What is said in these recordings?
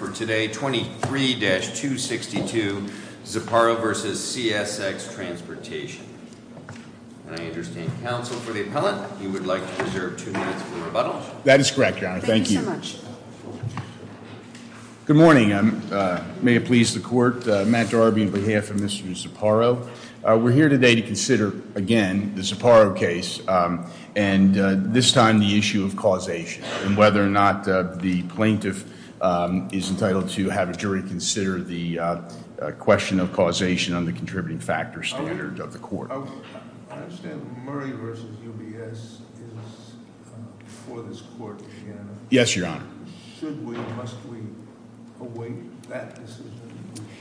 I understand counsel for the appellant, you would like to reserve two minutes for rebuttal. That is correct, your honor. Thank you. Thank you so much. Good morning. May it please the court, Matt Darby on behalf of Mr. Ziparo. We're here today to consider, again, the Ziparo case and this time the issue of causation and whether or not the plaintiff is entitled to have a jury consider the question of causation on the contributing factors standard of the court. I understand Murray v. UBS is for this court, your honor. Yes, your honor. Should we, must we await that decision?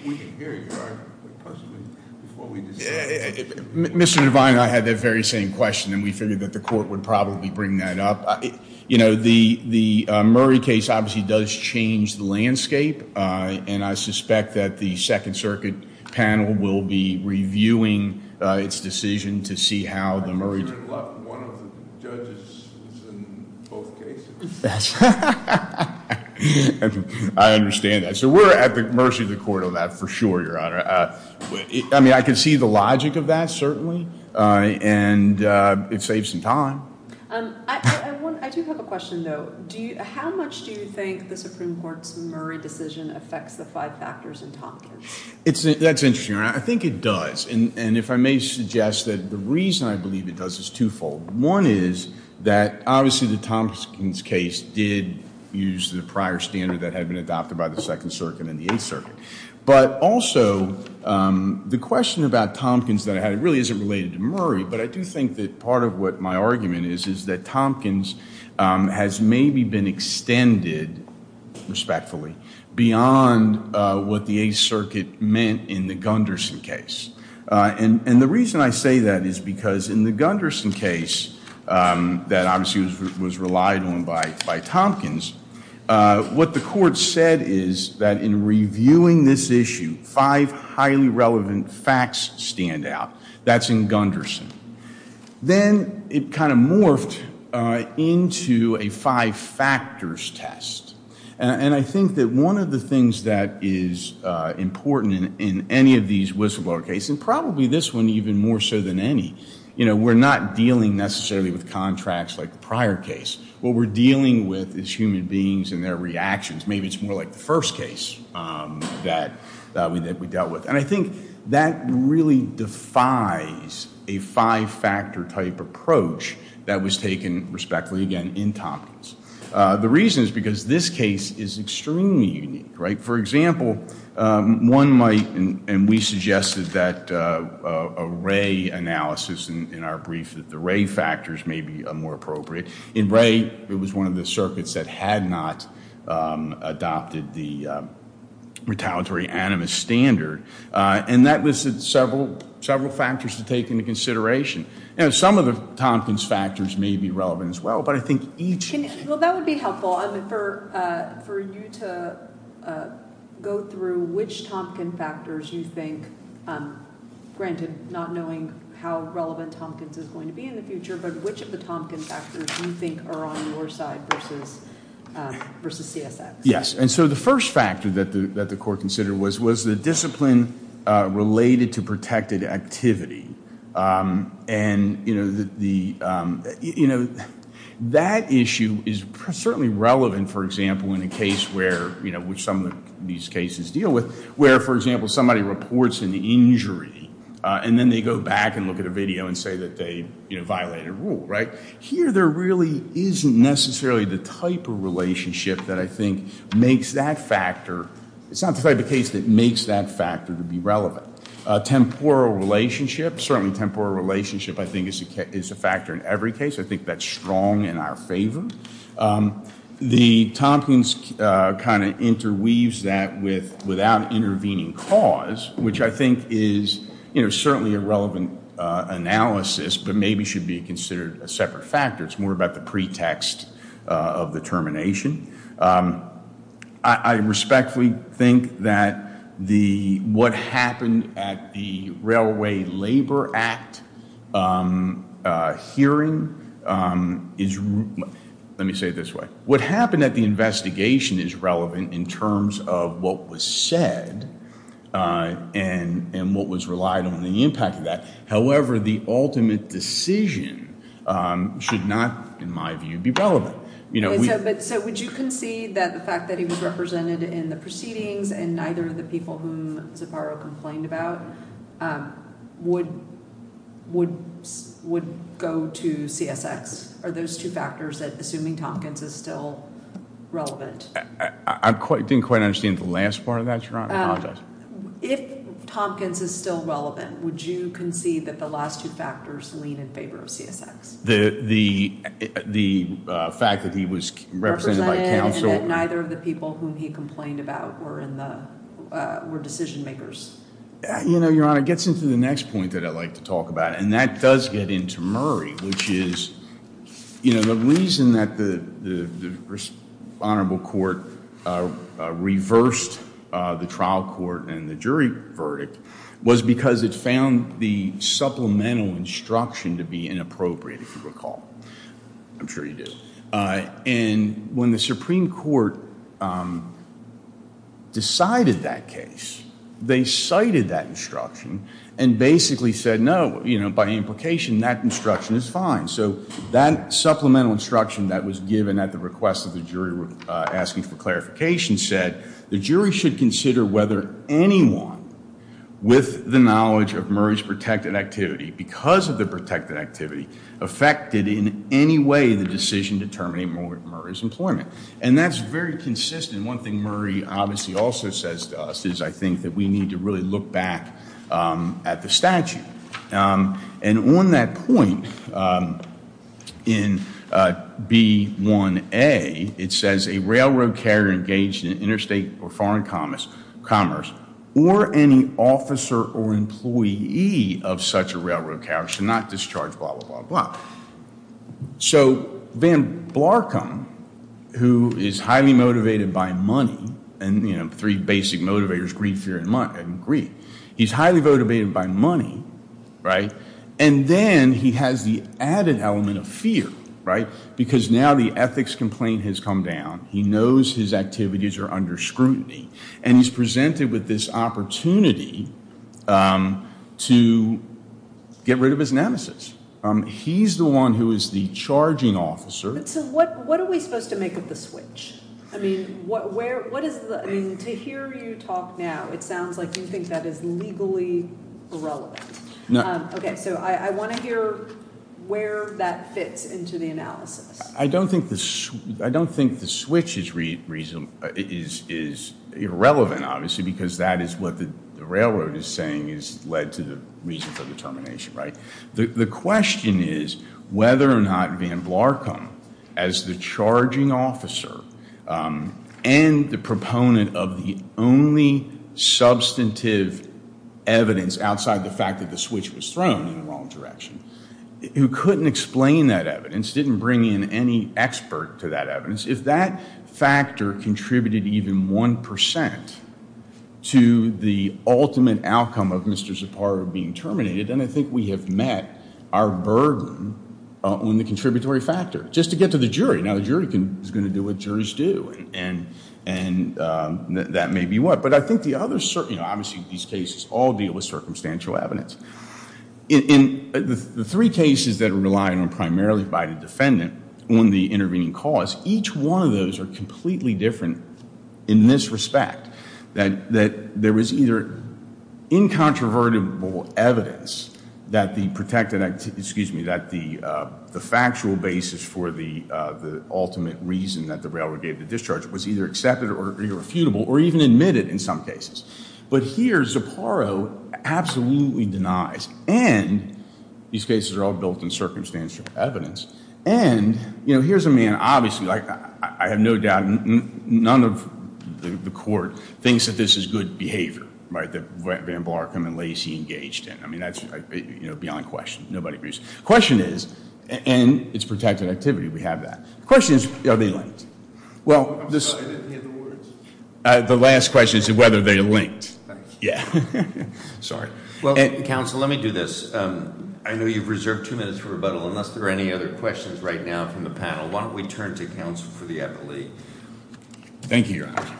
We can hear your argument, but possibly before we decide. Mr. Devine and I had that very same question and we figured that the court would probably bring that up. You know, the Murray case obviously does change the landscape and I suspect that the Second Circuit panel will be reviewing its decision to see how the Murray. I'm sure one of the judges is in both cases. I understand that. So we're at the mercy of the court on that for sure, your honor. I mean, I can see the logic of that, certainly, and it saves some time. I do have a question, though. How much do you think the Supreme Court's Murray decision affects the five factors in Tompkins? That's interesting, your honor. I think it does. And if I may suggest that the reason I believe it does is twofold. One is that obviously the Tompkins case did use the prior standard that had been adopted by the Second Circuit and the Eighth Circuit. But also, the question about Tompkins that I had really isn't related to Murray, but I do think that part of what my argument is is that Tompkins has maybe been extended, respectfully, beyond what the Eighth Circuit meant in the Gunderson case. And the reason I say that is because in the Gunderson case, that obviously was relied on by Tompkins, what the court said is that in reviewing this issue, five highly relevant facts stand out. That's in Gunderson. Then it kind of morphed into a five factors test. And I think that one of the things that is important in any of these whistleblower cases, and probably this one even more so than any, you know, we're not dealing necessarily with contracts like the prior case. What we're dealing with is human beings and their reactions. Maybe it's more like the first case that we dealt with. And I think that really defies a five factor type approach that was taken, respectfully, again, in Tompkins. The reason is because this case is extremely unique, right? For example, one might, and we suggested that a Ray analysis in our brief, that the Ray factors may be more appropriate. In Ray, it was one of the circuits that had not adopted the retaliatory animus standard. And that listed several factors to take into consideration. Some of the Tompkins factors may be relevant as well, but I think each- Well, that would be helpful for you to go through which Tompkins factors you think, granted, not knowing how relevant Tompkins is going to be in the future, but which of the Tompkins factors you think are on your side versus CSX. Yes. And so the first factor that the court considered was the discipline related to protected activity. And you know, that issue is certainly relevant, for example, in a case where, you know, which some of these cases deal with, where, for example, somebody reports an injury and then they go back and look at a video and say that they, you know, violated a rule, right? Here, there really isn't necessarily the type of relationship that I think makes that factor- It's not the type of case that makes that factor to be relevant. Temporal relationship, certainly temporal relationship, I think is a factor in every case. I think that's strong in our favor. The Tompkins kind of interweaves that without intervening cause, which I think is, you know, a separate factor. It's more about the pretext of the termination. I respectfully think that the, what happened at the Railway Labor Act hearing is, let me say it this way. What happened at the investigation is relevant in terms of what was said and what was relied on the impact of that. However, the ultimate decision should not, in my view, be relevant. So, would you concede that the fact that he was represented in the proceedings and neither of the people whom Zaparro complained about would go to CSX? Are those two factors that, assuming Tompkins, is still relevant? I didn't quite understand the last part of that, Your Honor, I apologize. If Tompkins is still relevant, would you concede that the last two factors lean in favor of CSX? The fact that he was represented by counsel and that neither of the people whom he complained about were in the, were decision-makers? You know, Your Honor, it gets into the next point that I'd like to talk about, and that does get into Murray, which is, you know, the reason that the Honorable Court reversed the trial court and the jury verdict was because it found the supplemental instruction to be inappropriate, if you recall. I'm sure you do. And when the Supreme Court decided that case, they cited that instruction and basically said no, you know, by implication, that instruction is fine. So that supplemental instruction that was given at the request of the jury asking for Murray should consider whether anyone with the knowledge of Murray's protected activity, because of the protected activity, affected in any way the decision determining Murray's employment. And that's very consistent. One thing Murray obviously also says to us is, I think, that we need to really look back at the statute. And on that point, in B1A, it says a railroad carrier engaged in interstate or foreign commerce or any officer or employee of such a railroad carriage should not discharge blah, blah, blah, blah. So Van Blarkham, who is highly motivated by money and, you know, three basic motivators, greed, fear, and greed, he's highly motivated by money, right? And then he has the added element of fear, right? Because now the ethics complaint has come down. He knows his activities are under scrutiny. And he's presented with this opportunity to get rid of his nemesis. He's the one who is the charging officer. So what are we supposed to make of the switch? I mean, what is the, I mean, to hear you talk now, it sounds like you think that is legally irrelevant. Okay, so I want to hear where that fits into the analysis. I don't think the switch is irrelevant, obviously, because that is what the railroad is saying has led to the reason for the termination, right? The question is whether or not Van Blarkham, as the charging officer and the proponent of the only substantive evidence outside the fact that the switch was thrown in the wrong direction, who couldn't explain that evidence, didn't bring in any expert to that evidence, if that factor contributed even 1% to the ultimate outcome of Mr. Zapata being terminated, then I think we have met our burden on the contributory factor. Just to get to the jury, now the jury is going to do what juries do, and that may be what. But I think the other, you know, obviously these cases all deal with circumstantial evidence. In the three cases that are relying on primarily by the defendant on the intervening cause, each one of those are completely different in this respect. That there was either incontrovertible evidence that the protected, excuse me, that the factual basis for the ultimate reason that the railroad gave the discharge was either accepted or irrefutable, or even admitted in some cases. But here, Zapparo absolutely denies, and these cases are all built in circumstantial evidence, and here's a man, obviously, I have no doubt, none of the court thinks that this is good behavior, right? That Van Blarkham and Lacey engaged in. I mean, that's beyond question, nobody agrees. Question is, and it's protected activity, we have that. Question is, are they linked? Well, this- I'm sorry, I didn't hear the words. The last question is whether they are linked. Yeah, sorry. Well, counsel, let me do this. I know you've reserved two minutes for rebuttal, unless there are any other questions right now from the panel. Why don't we turn to counsel for the appellee? Thank you, your honor.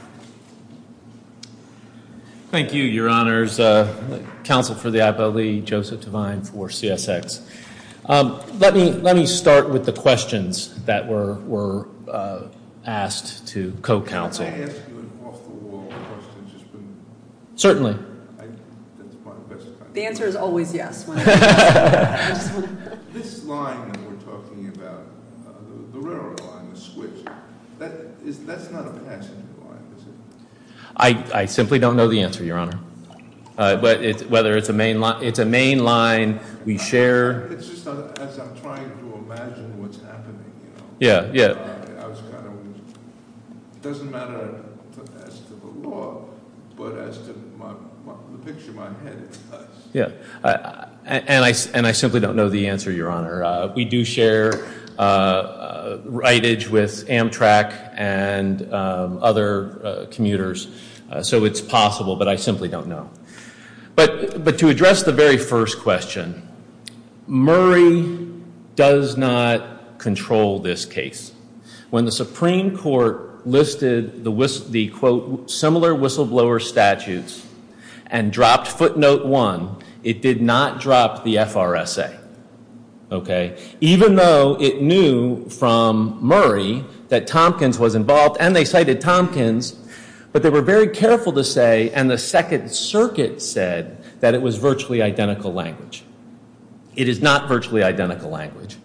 Thank you, your honors. Counsel for the appellee, Joseph Devine for CSX. Let me start with the questions that were asked to co-counsel. Can I ask you an off the wall question? Certainly. The answer is always yes. This line that we're talking about, the railroad line, the switch, that's not a passenger line, is it? I simply don't know the answer, your honor. But whether it's a main line, we share- It's just as I'm trying to imagine what's happening, you know? Yeah, yeah. I was kind of, it doesn't matter as to the law, but as to the picture in my head, it does. Yeah, and I simply don't know the answer, your honor. We do share rightage with Amtrak and other commuters, so it's possible, but I simply don't know. But to address the very first question, Murray does not control this case. When the Supreme Court listed the, quote, similar whistleblower statutes, and dropped footnote one, it did not drop the FRSA, okay? Even though it knew from Murray that Tompkins was involved, and they cited Tompkins. But they were very careful to say, and the Second Circuit said, that it was virtually identical language. It is not virtually identical language.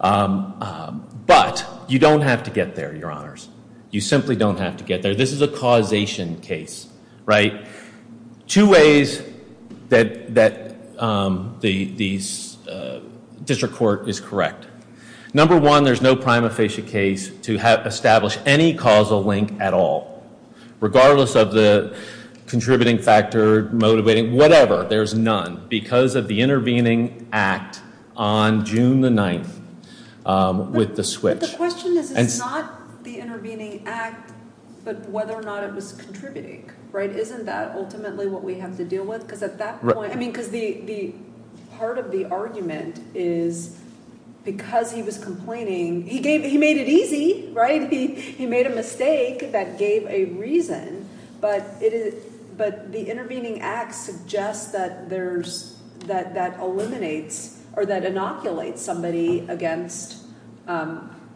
But you don't have to get there, your honors. You simply don't have to get there. This is a causation case, right? Two ways that the district court is correct. Number one, there's no prima facie case to establish any causal link at all. Regardless of the contributing factor, motivating, whatever, there's none. Because of the intervening act on June the 9th with the switch. But the question is, it's not the intervening act, but whether or not it was contributing, right? Isn't that ultimately what we have to deal with? because at that point, I mean, because part of the argument is because he was complaining. He made it easy, right? He made a mistake that gave a reason. But the intervening act suggests that there's, that eliminates or that inoculates somebody against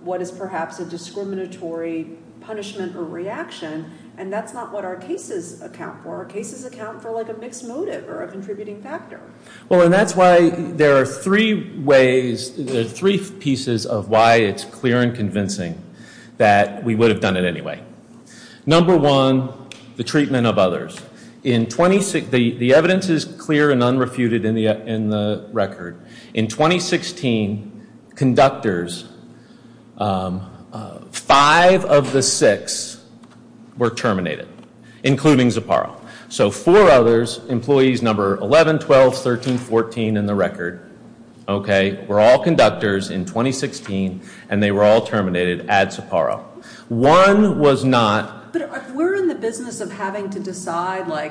what is perhaps a discriminatory punishment or reaction. And that's not what our cases account for. Our cases account for like a mixed motive or a contributing factor. Well, and that's why there are three ways, three pieces of why it's clear and convincing that we would have done it anyway. Number one, the treatment of others. In 26, the evidence is clear and unrefuted in the record. In 2016, conductors five of the six were terminated, including Zapparo. So four others, employees number 11, 12, 13, 14 in the record, okay, were all conductors in 2016, and they were all terminated at Zapparo. One was not- But if we're in the business of having to decide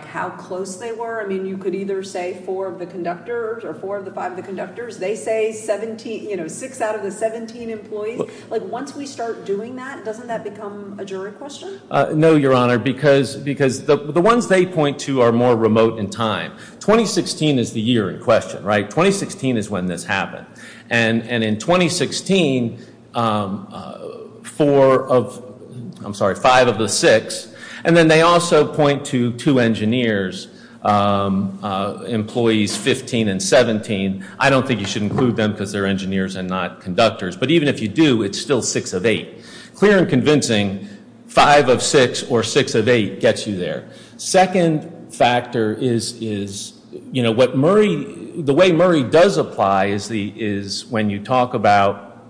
how close they were, I mean, you could either say four of the conductors or four of the five of the conductors. They say six out of the 17 employees. Once we start doing that, doesn't that become a jury question? No, Your Honor, because the ones they point to are more remote in time. 2016 is the year in question, right? 2016 is when this happened. And in 2016, four of, I'm sorry, five of the six. And then they also point to two engineers, employees 15 and 17. I don't think you should include them because they're engineers and not conductors. But even if you do, it's still six of eight. Clear and convincing, five of six or six of eight gets you there. Second factor is, you know, what Murray, the way Murray does apply is when you talk about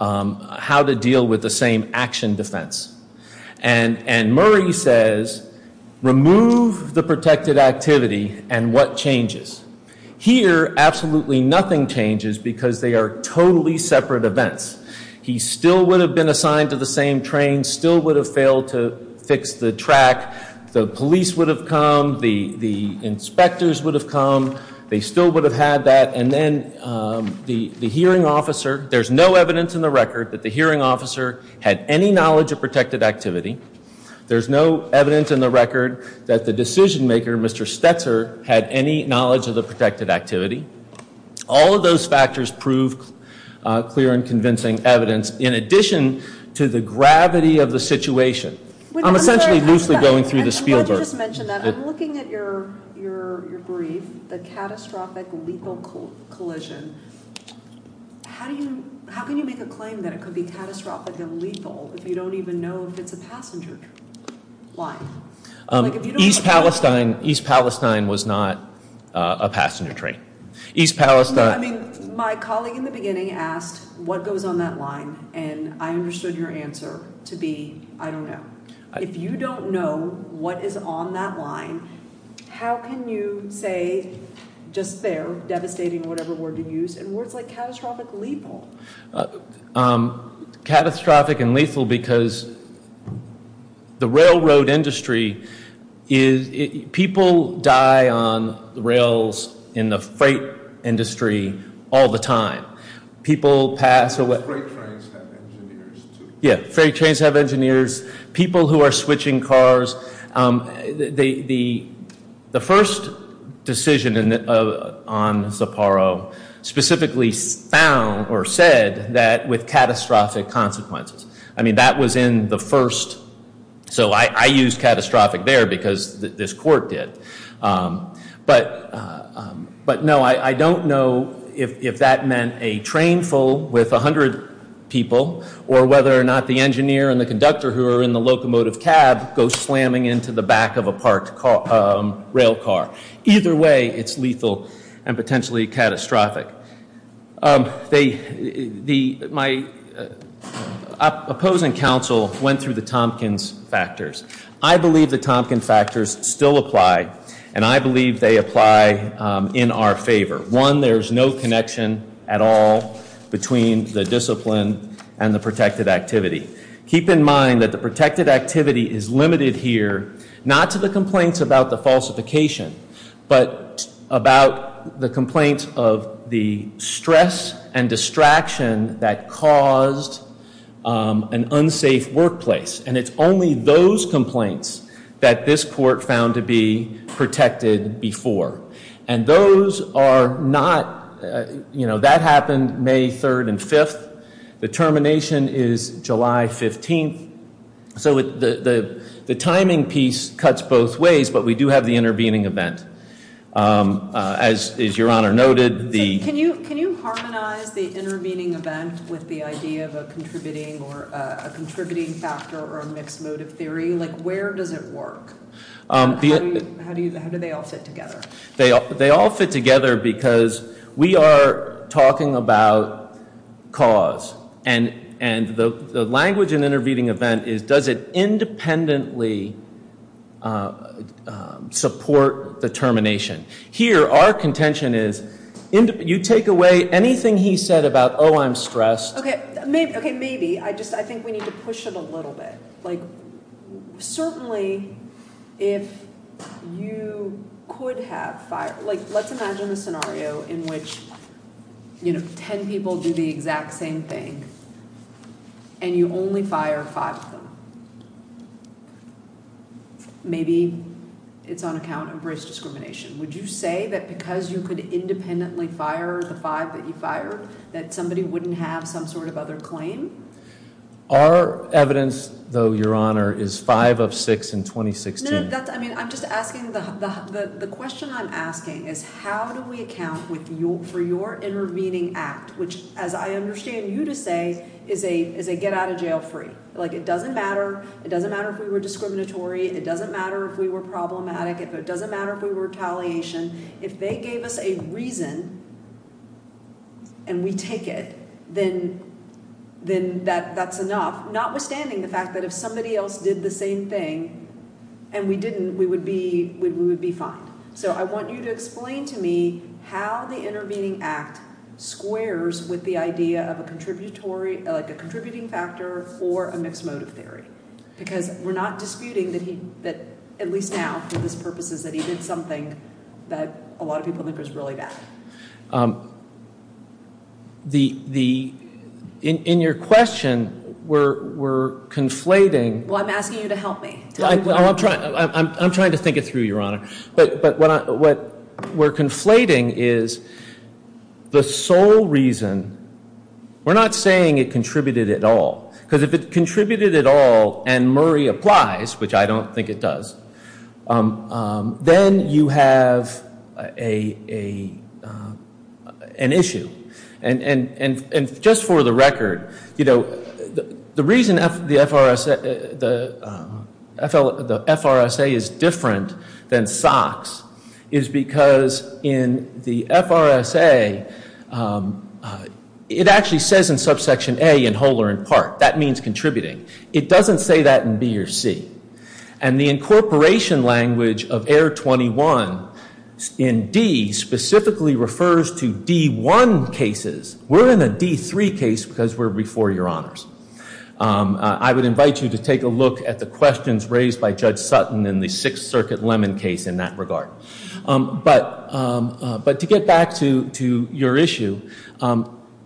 how to deal with the same action defense. And Murray says, remove the protected activity and what changes? Here, absolutely nothing changes because they are totally separate events. He still would have been assigned to the same train, still would have failed to fix the track. The police would have come, the inspectors would have come. They still would have had that. And then the hearing officer, there's no evidence in the record that the hearing officer had any knowledge of protected activity. There's no evidence in the record that the decision maker, Mr. Stetzer, had any knowledge of the protected activity. All of those factors prove clear and convincing evidence. In addition to the gravity of the situation. I'm essentially loosely going through the Spielberg. I'm glad you just mentioned that. I'm looking at your brief, the catastrophic lethal collision. How can you make a claim that it could be catastrophic and lethal if you don't even know if it's a passenger train? Why? East Palestine was not a passenger train. East Palestine. No, I mean, my colleague in the beginning asked what goes on that line and I understood your answer to be, I don't know. If you don't know what is on that line, how can you say just there, devastating whatever word you use, and words like catastrophic lethal. Catastrophic and lethal because the railroad industry is, people die on the rails in the freight industry all the time. People pass away. Freight trains have engineers too. Yeah, freight trains have engineers. People who are switching cars, the first decision on Zaporo specifically found or said that with catastrophic consequences. I mean, that was in the first, so I used catastrophic there because this court did, but no, I don't know if that meant a train full with 100 people or whether or not the engineer and the conductor who are in the locomotive cab go slamming into the back of a parked rail car. Either way, it's lethal and potentially catastrophic. My opposing counsel went through the Tompkins factors. I believe the Tompkins factors still apply, and I believe they apply in our favor. One, there's no connection at all between the discipline and the protected activity. Keep in mind that the protected activity is limited here not to the complaints about the falsification, but about the complaints of the stress and distraction that caused an unsafe workplace, and it's only those complaints that this court found to be protected before. And those are not, you know, that happened May 3rd and 5th. The termination is July 15th. So the timing piece cuts both ways, but we do have the intervening event. As your honor noted, the. Can you harmonize the intervening event with the idea of a contributing factor or a mixed motive theory? Like where does it work? How do they all fit together? They all fit together because we are talking about cause, and the language in intervening event is does it independently support the termination? Here, our contention is you take away anything he said about, oh, I'm stressed. Okay, maybe. I just, I think we need to push it a little bit. Like certainly if you could have, like let's imagine a scenario in which, you know, ten people do the exact same thing, and you only fire five of them. Maybe it's on account of race discrimination. Would you say that because you could independently fire the five that you fired that somebody wouldn't have some sort of other claim? Our evidence, though, your honor, is five of six in 2016. No, that's, I mean, I'm just asking, the question I'm asking is how do we account for your intervening act, which as I understand you to say is a get out of jail free. Like it doesn't matter, it doesn't matter if we were discriminatory, it doesn't matter if we were problematic, it doesn't matter if we were retaliation. If they gave us a reason and we take it, then that's enough, notwithstanding the fact that if somebody else did the same thing and we didn't, we would be fine. So I want you to explain to me how the intervening act squares with the idea of a contributory, like a contributing factor or a mixed motive theory. Because we're not disputing that he, that at least now for his purposes that he did something that a lot of people think was really bad. The, in your question, we're conflating. Well, I'm asking you to help me. I'm trying to think it through, your honor. But what we're conflating is the sole reason, we're not saying it contributed at all, because if it contributed at all and Murray applies, which I don't think it does, then you have an issue. And just for the record, you know, the reason the FRSA is different than SOX is because in the FRSA, it actually says in subsection A, in whole or in part. That means contributing. It doesn't say that in B or C. And the incorporation language of error 21 in D specifically refers to D1 cases. We're in a D3 case because we're before your honors. I would invite you to take a look at the questions raised by Judge Sutton in the Sixth Circuit Lemon case in that regard. But to get back to your issue,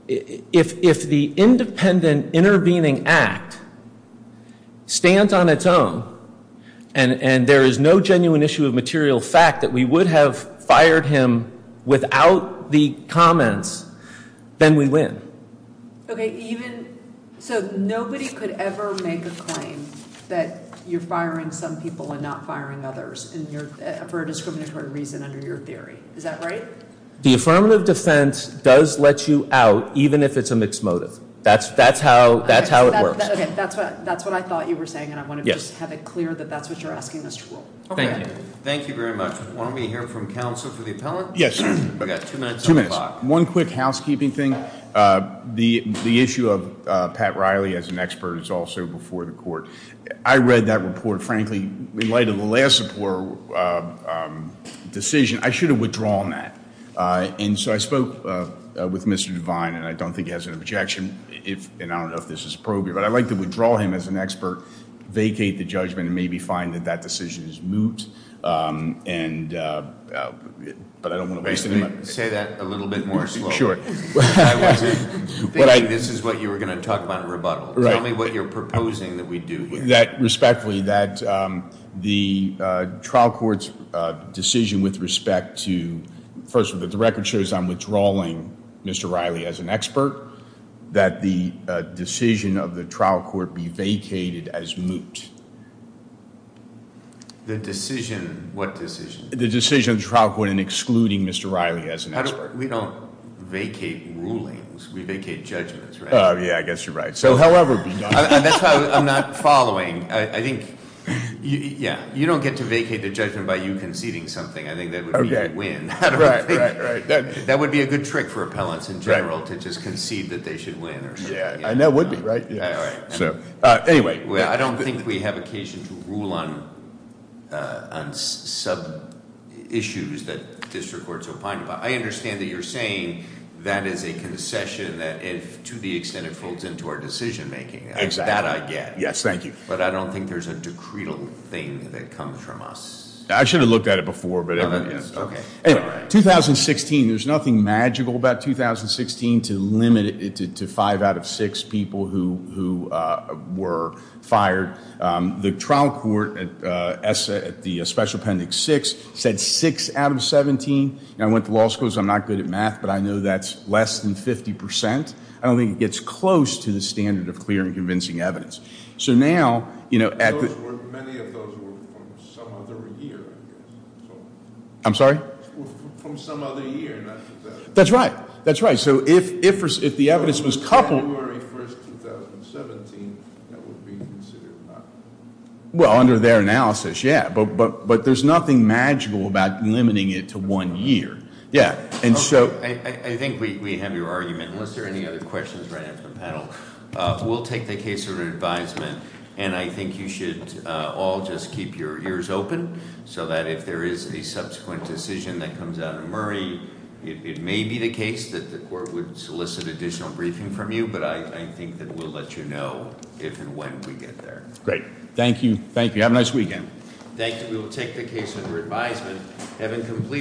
if the independent intervening act stands on its own and there is no genuine issue of material fact that we would have fired him without the comments, then we win. Okay, even, so nobody could ever make a claim that you're firing some people and not firing others for a discriminatory reason under your theory. Is that right? The affirmative defense does let you out even if it's a mixed motive. That's how it works. Okay, that's what I thought you were saying and I want to just have it clear that that's what you're asking us to rule. Okay. Thank you. Thank you very much. Why don't we hear from counsel for the appellant? Yes. We've got two minutes on the clock. One quick housekeeping thing. The issue of Pat Riley as an expert is also before the court. I read that report. Frankly, in light of the last support decision, I should have withdrawn that. And so I spoke with Mr. Devine and I don't think he has an objection. And I don't know if this is appropriate, but I'd like to withdraw him as an expert, vacate the judgment and maybe find that that decision is moot. But I don't want to waste any money. Say that a little bit more slowly. Sure. I wasn't thinking this is what you were going to talk about in rebuttal. Tell me what you're proposing that we do here. Respectfully, that the trial court's decision with respect to, first of all, that the record shows I'm withdrawing Mr. Riley as an expert, that the decision of the trial court be vacated as moot. The decision, what decision? The decision of the trial court in excluding Mr. Riley as an expert. We don't vacate rulings. We vacate judgments, right? Yeah, I guess you're right. So however be done. That's why I'm not following. I think, yeah, you don't get to vacate the judgment by you conceding something. I think that would be a win. Right, right, right. That would be a good trick for appellants in general to just concede that they should win or something. Yeah, and that would be, right? Yeah, right. Anyway. I don't think we have occasion to rule on some issues that district courts are fined by. I understand that you're saying that is a concession that if to the extent it folds into our decision making. That I get. Yes, thank you. But I don't think there's a decreed thing that comes from us. I should have looked at it before, but. No, no, no. Okay. Anyway, 2016, there's nothing magical about 2016 to limit it to five out of six people who were fired. The trial court at the special appendix six said six out of 17. And I went to law school, so I'm not good at math, but I know that's less than 50%. I don't think it gets close to the standard of clear and convincing evidence. So now, at the- Those were, many of those were from some other year, I guess, so. I'm sorry? That's right, that's right. So if the evidence was coupled- January 1st, 2017, that would be considered not. Well, under their analysis, yeah. But there's nothing magical about limiting it to one year. Yeah, and so- I think we have your argument. Unless there are any other questions right after the panel, we'll take the case of an advisement. And I think you should all just keep your ears open, so that if there is a subsequent decision that comes out of Murray, it may be the case that the court would solicit additional briefing from you, but I think that we'll let you know if and when we get there. Great, thank you, thank you, have a nice weekend. Thank you, we will take the case under advisement. Having completed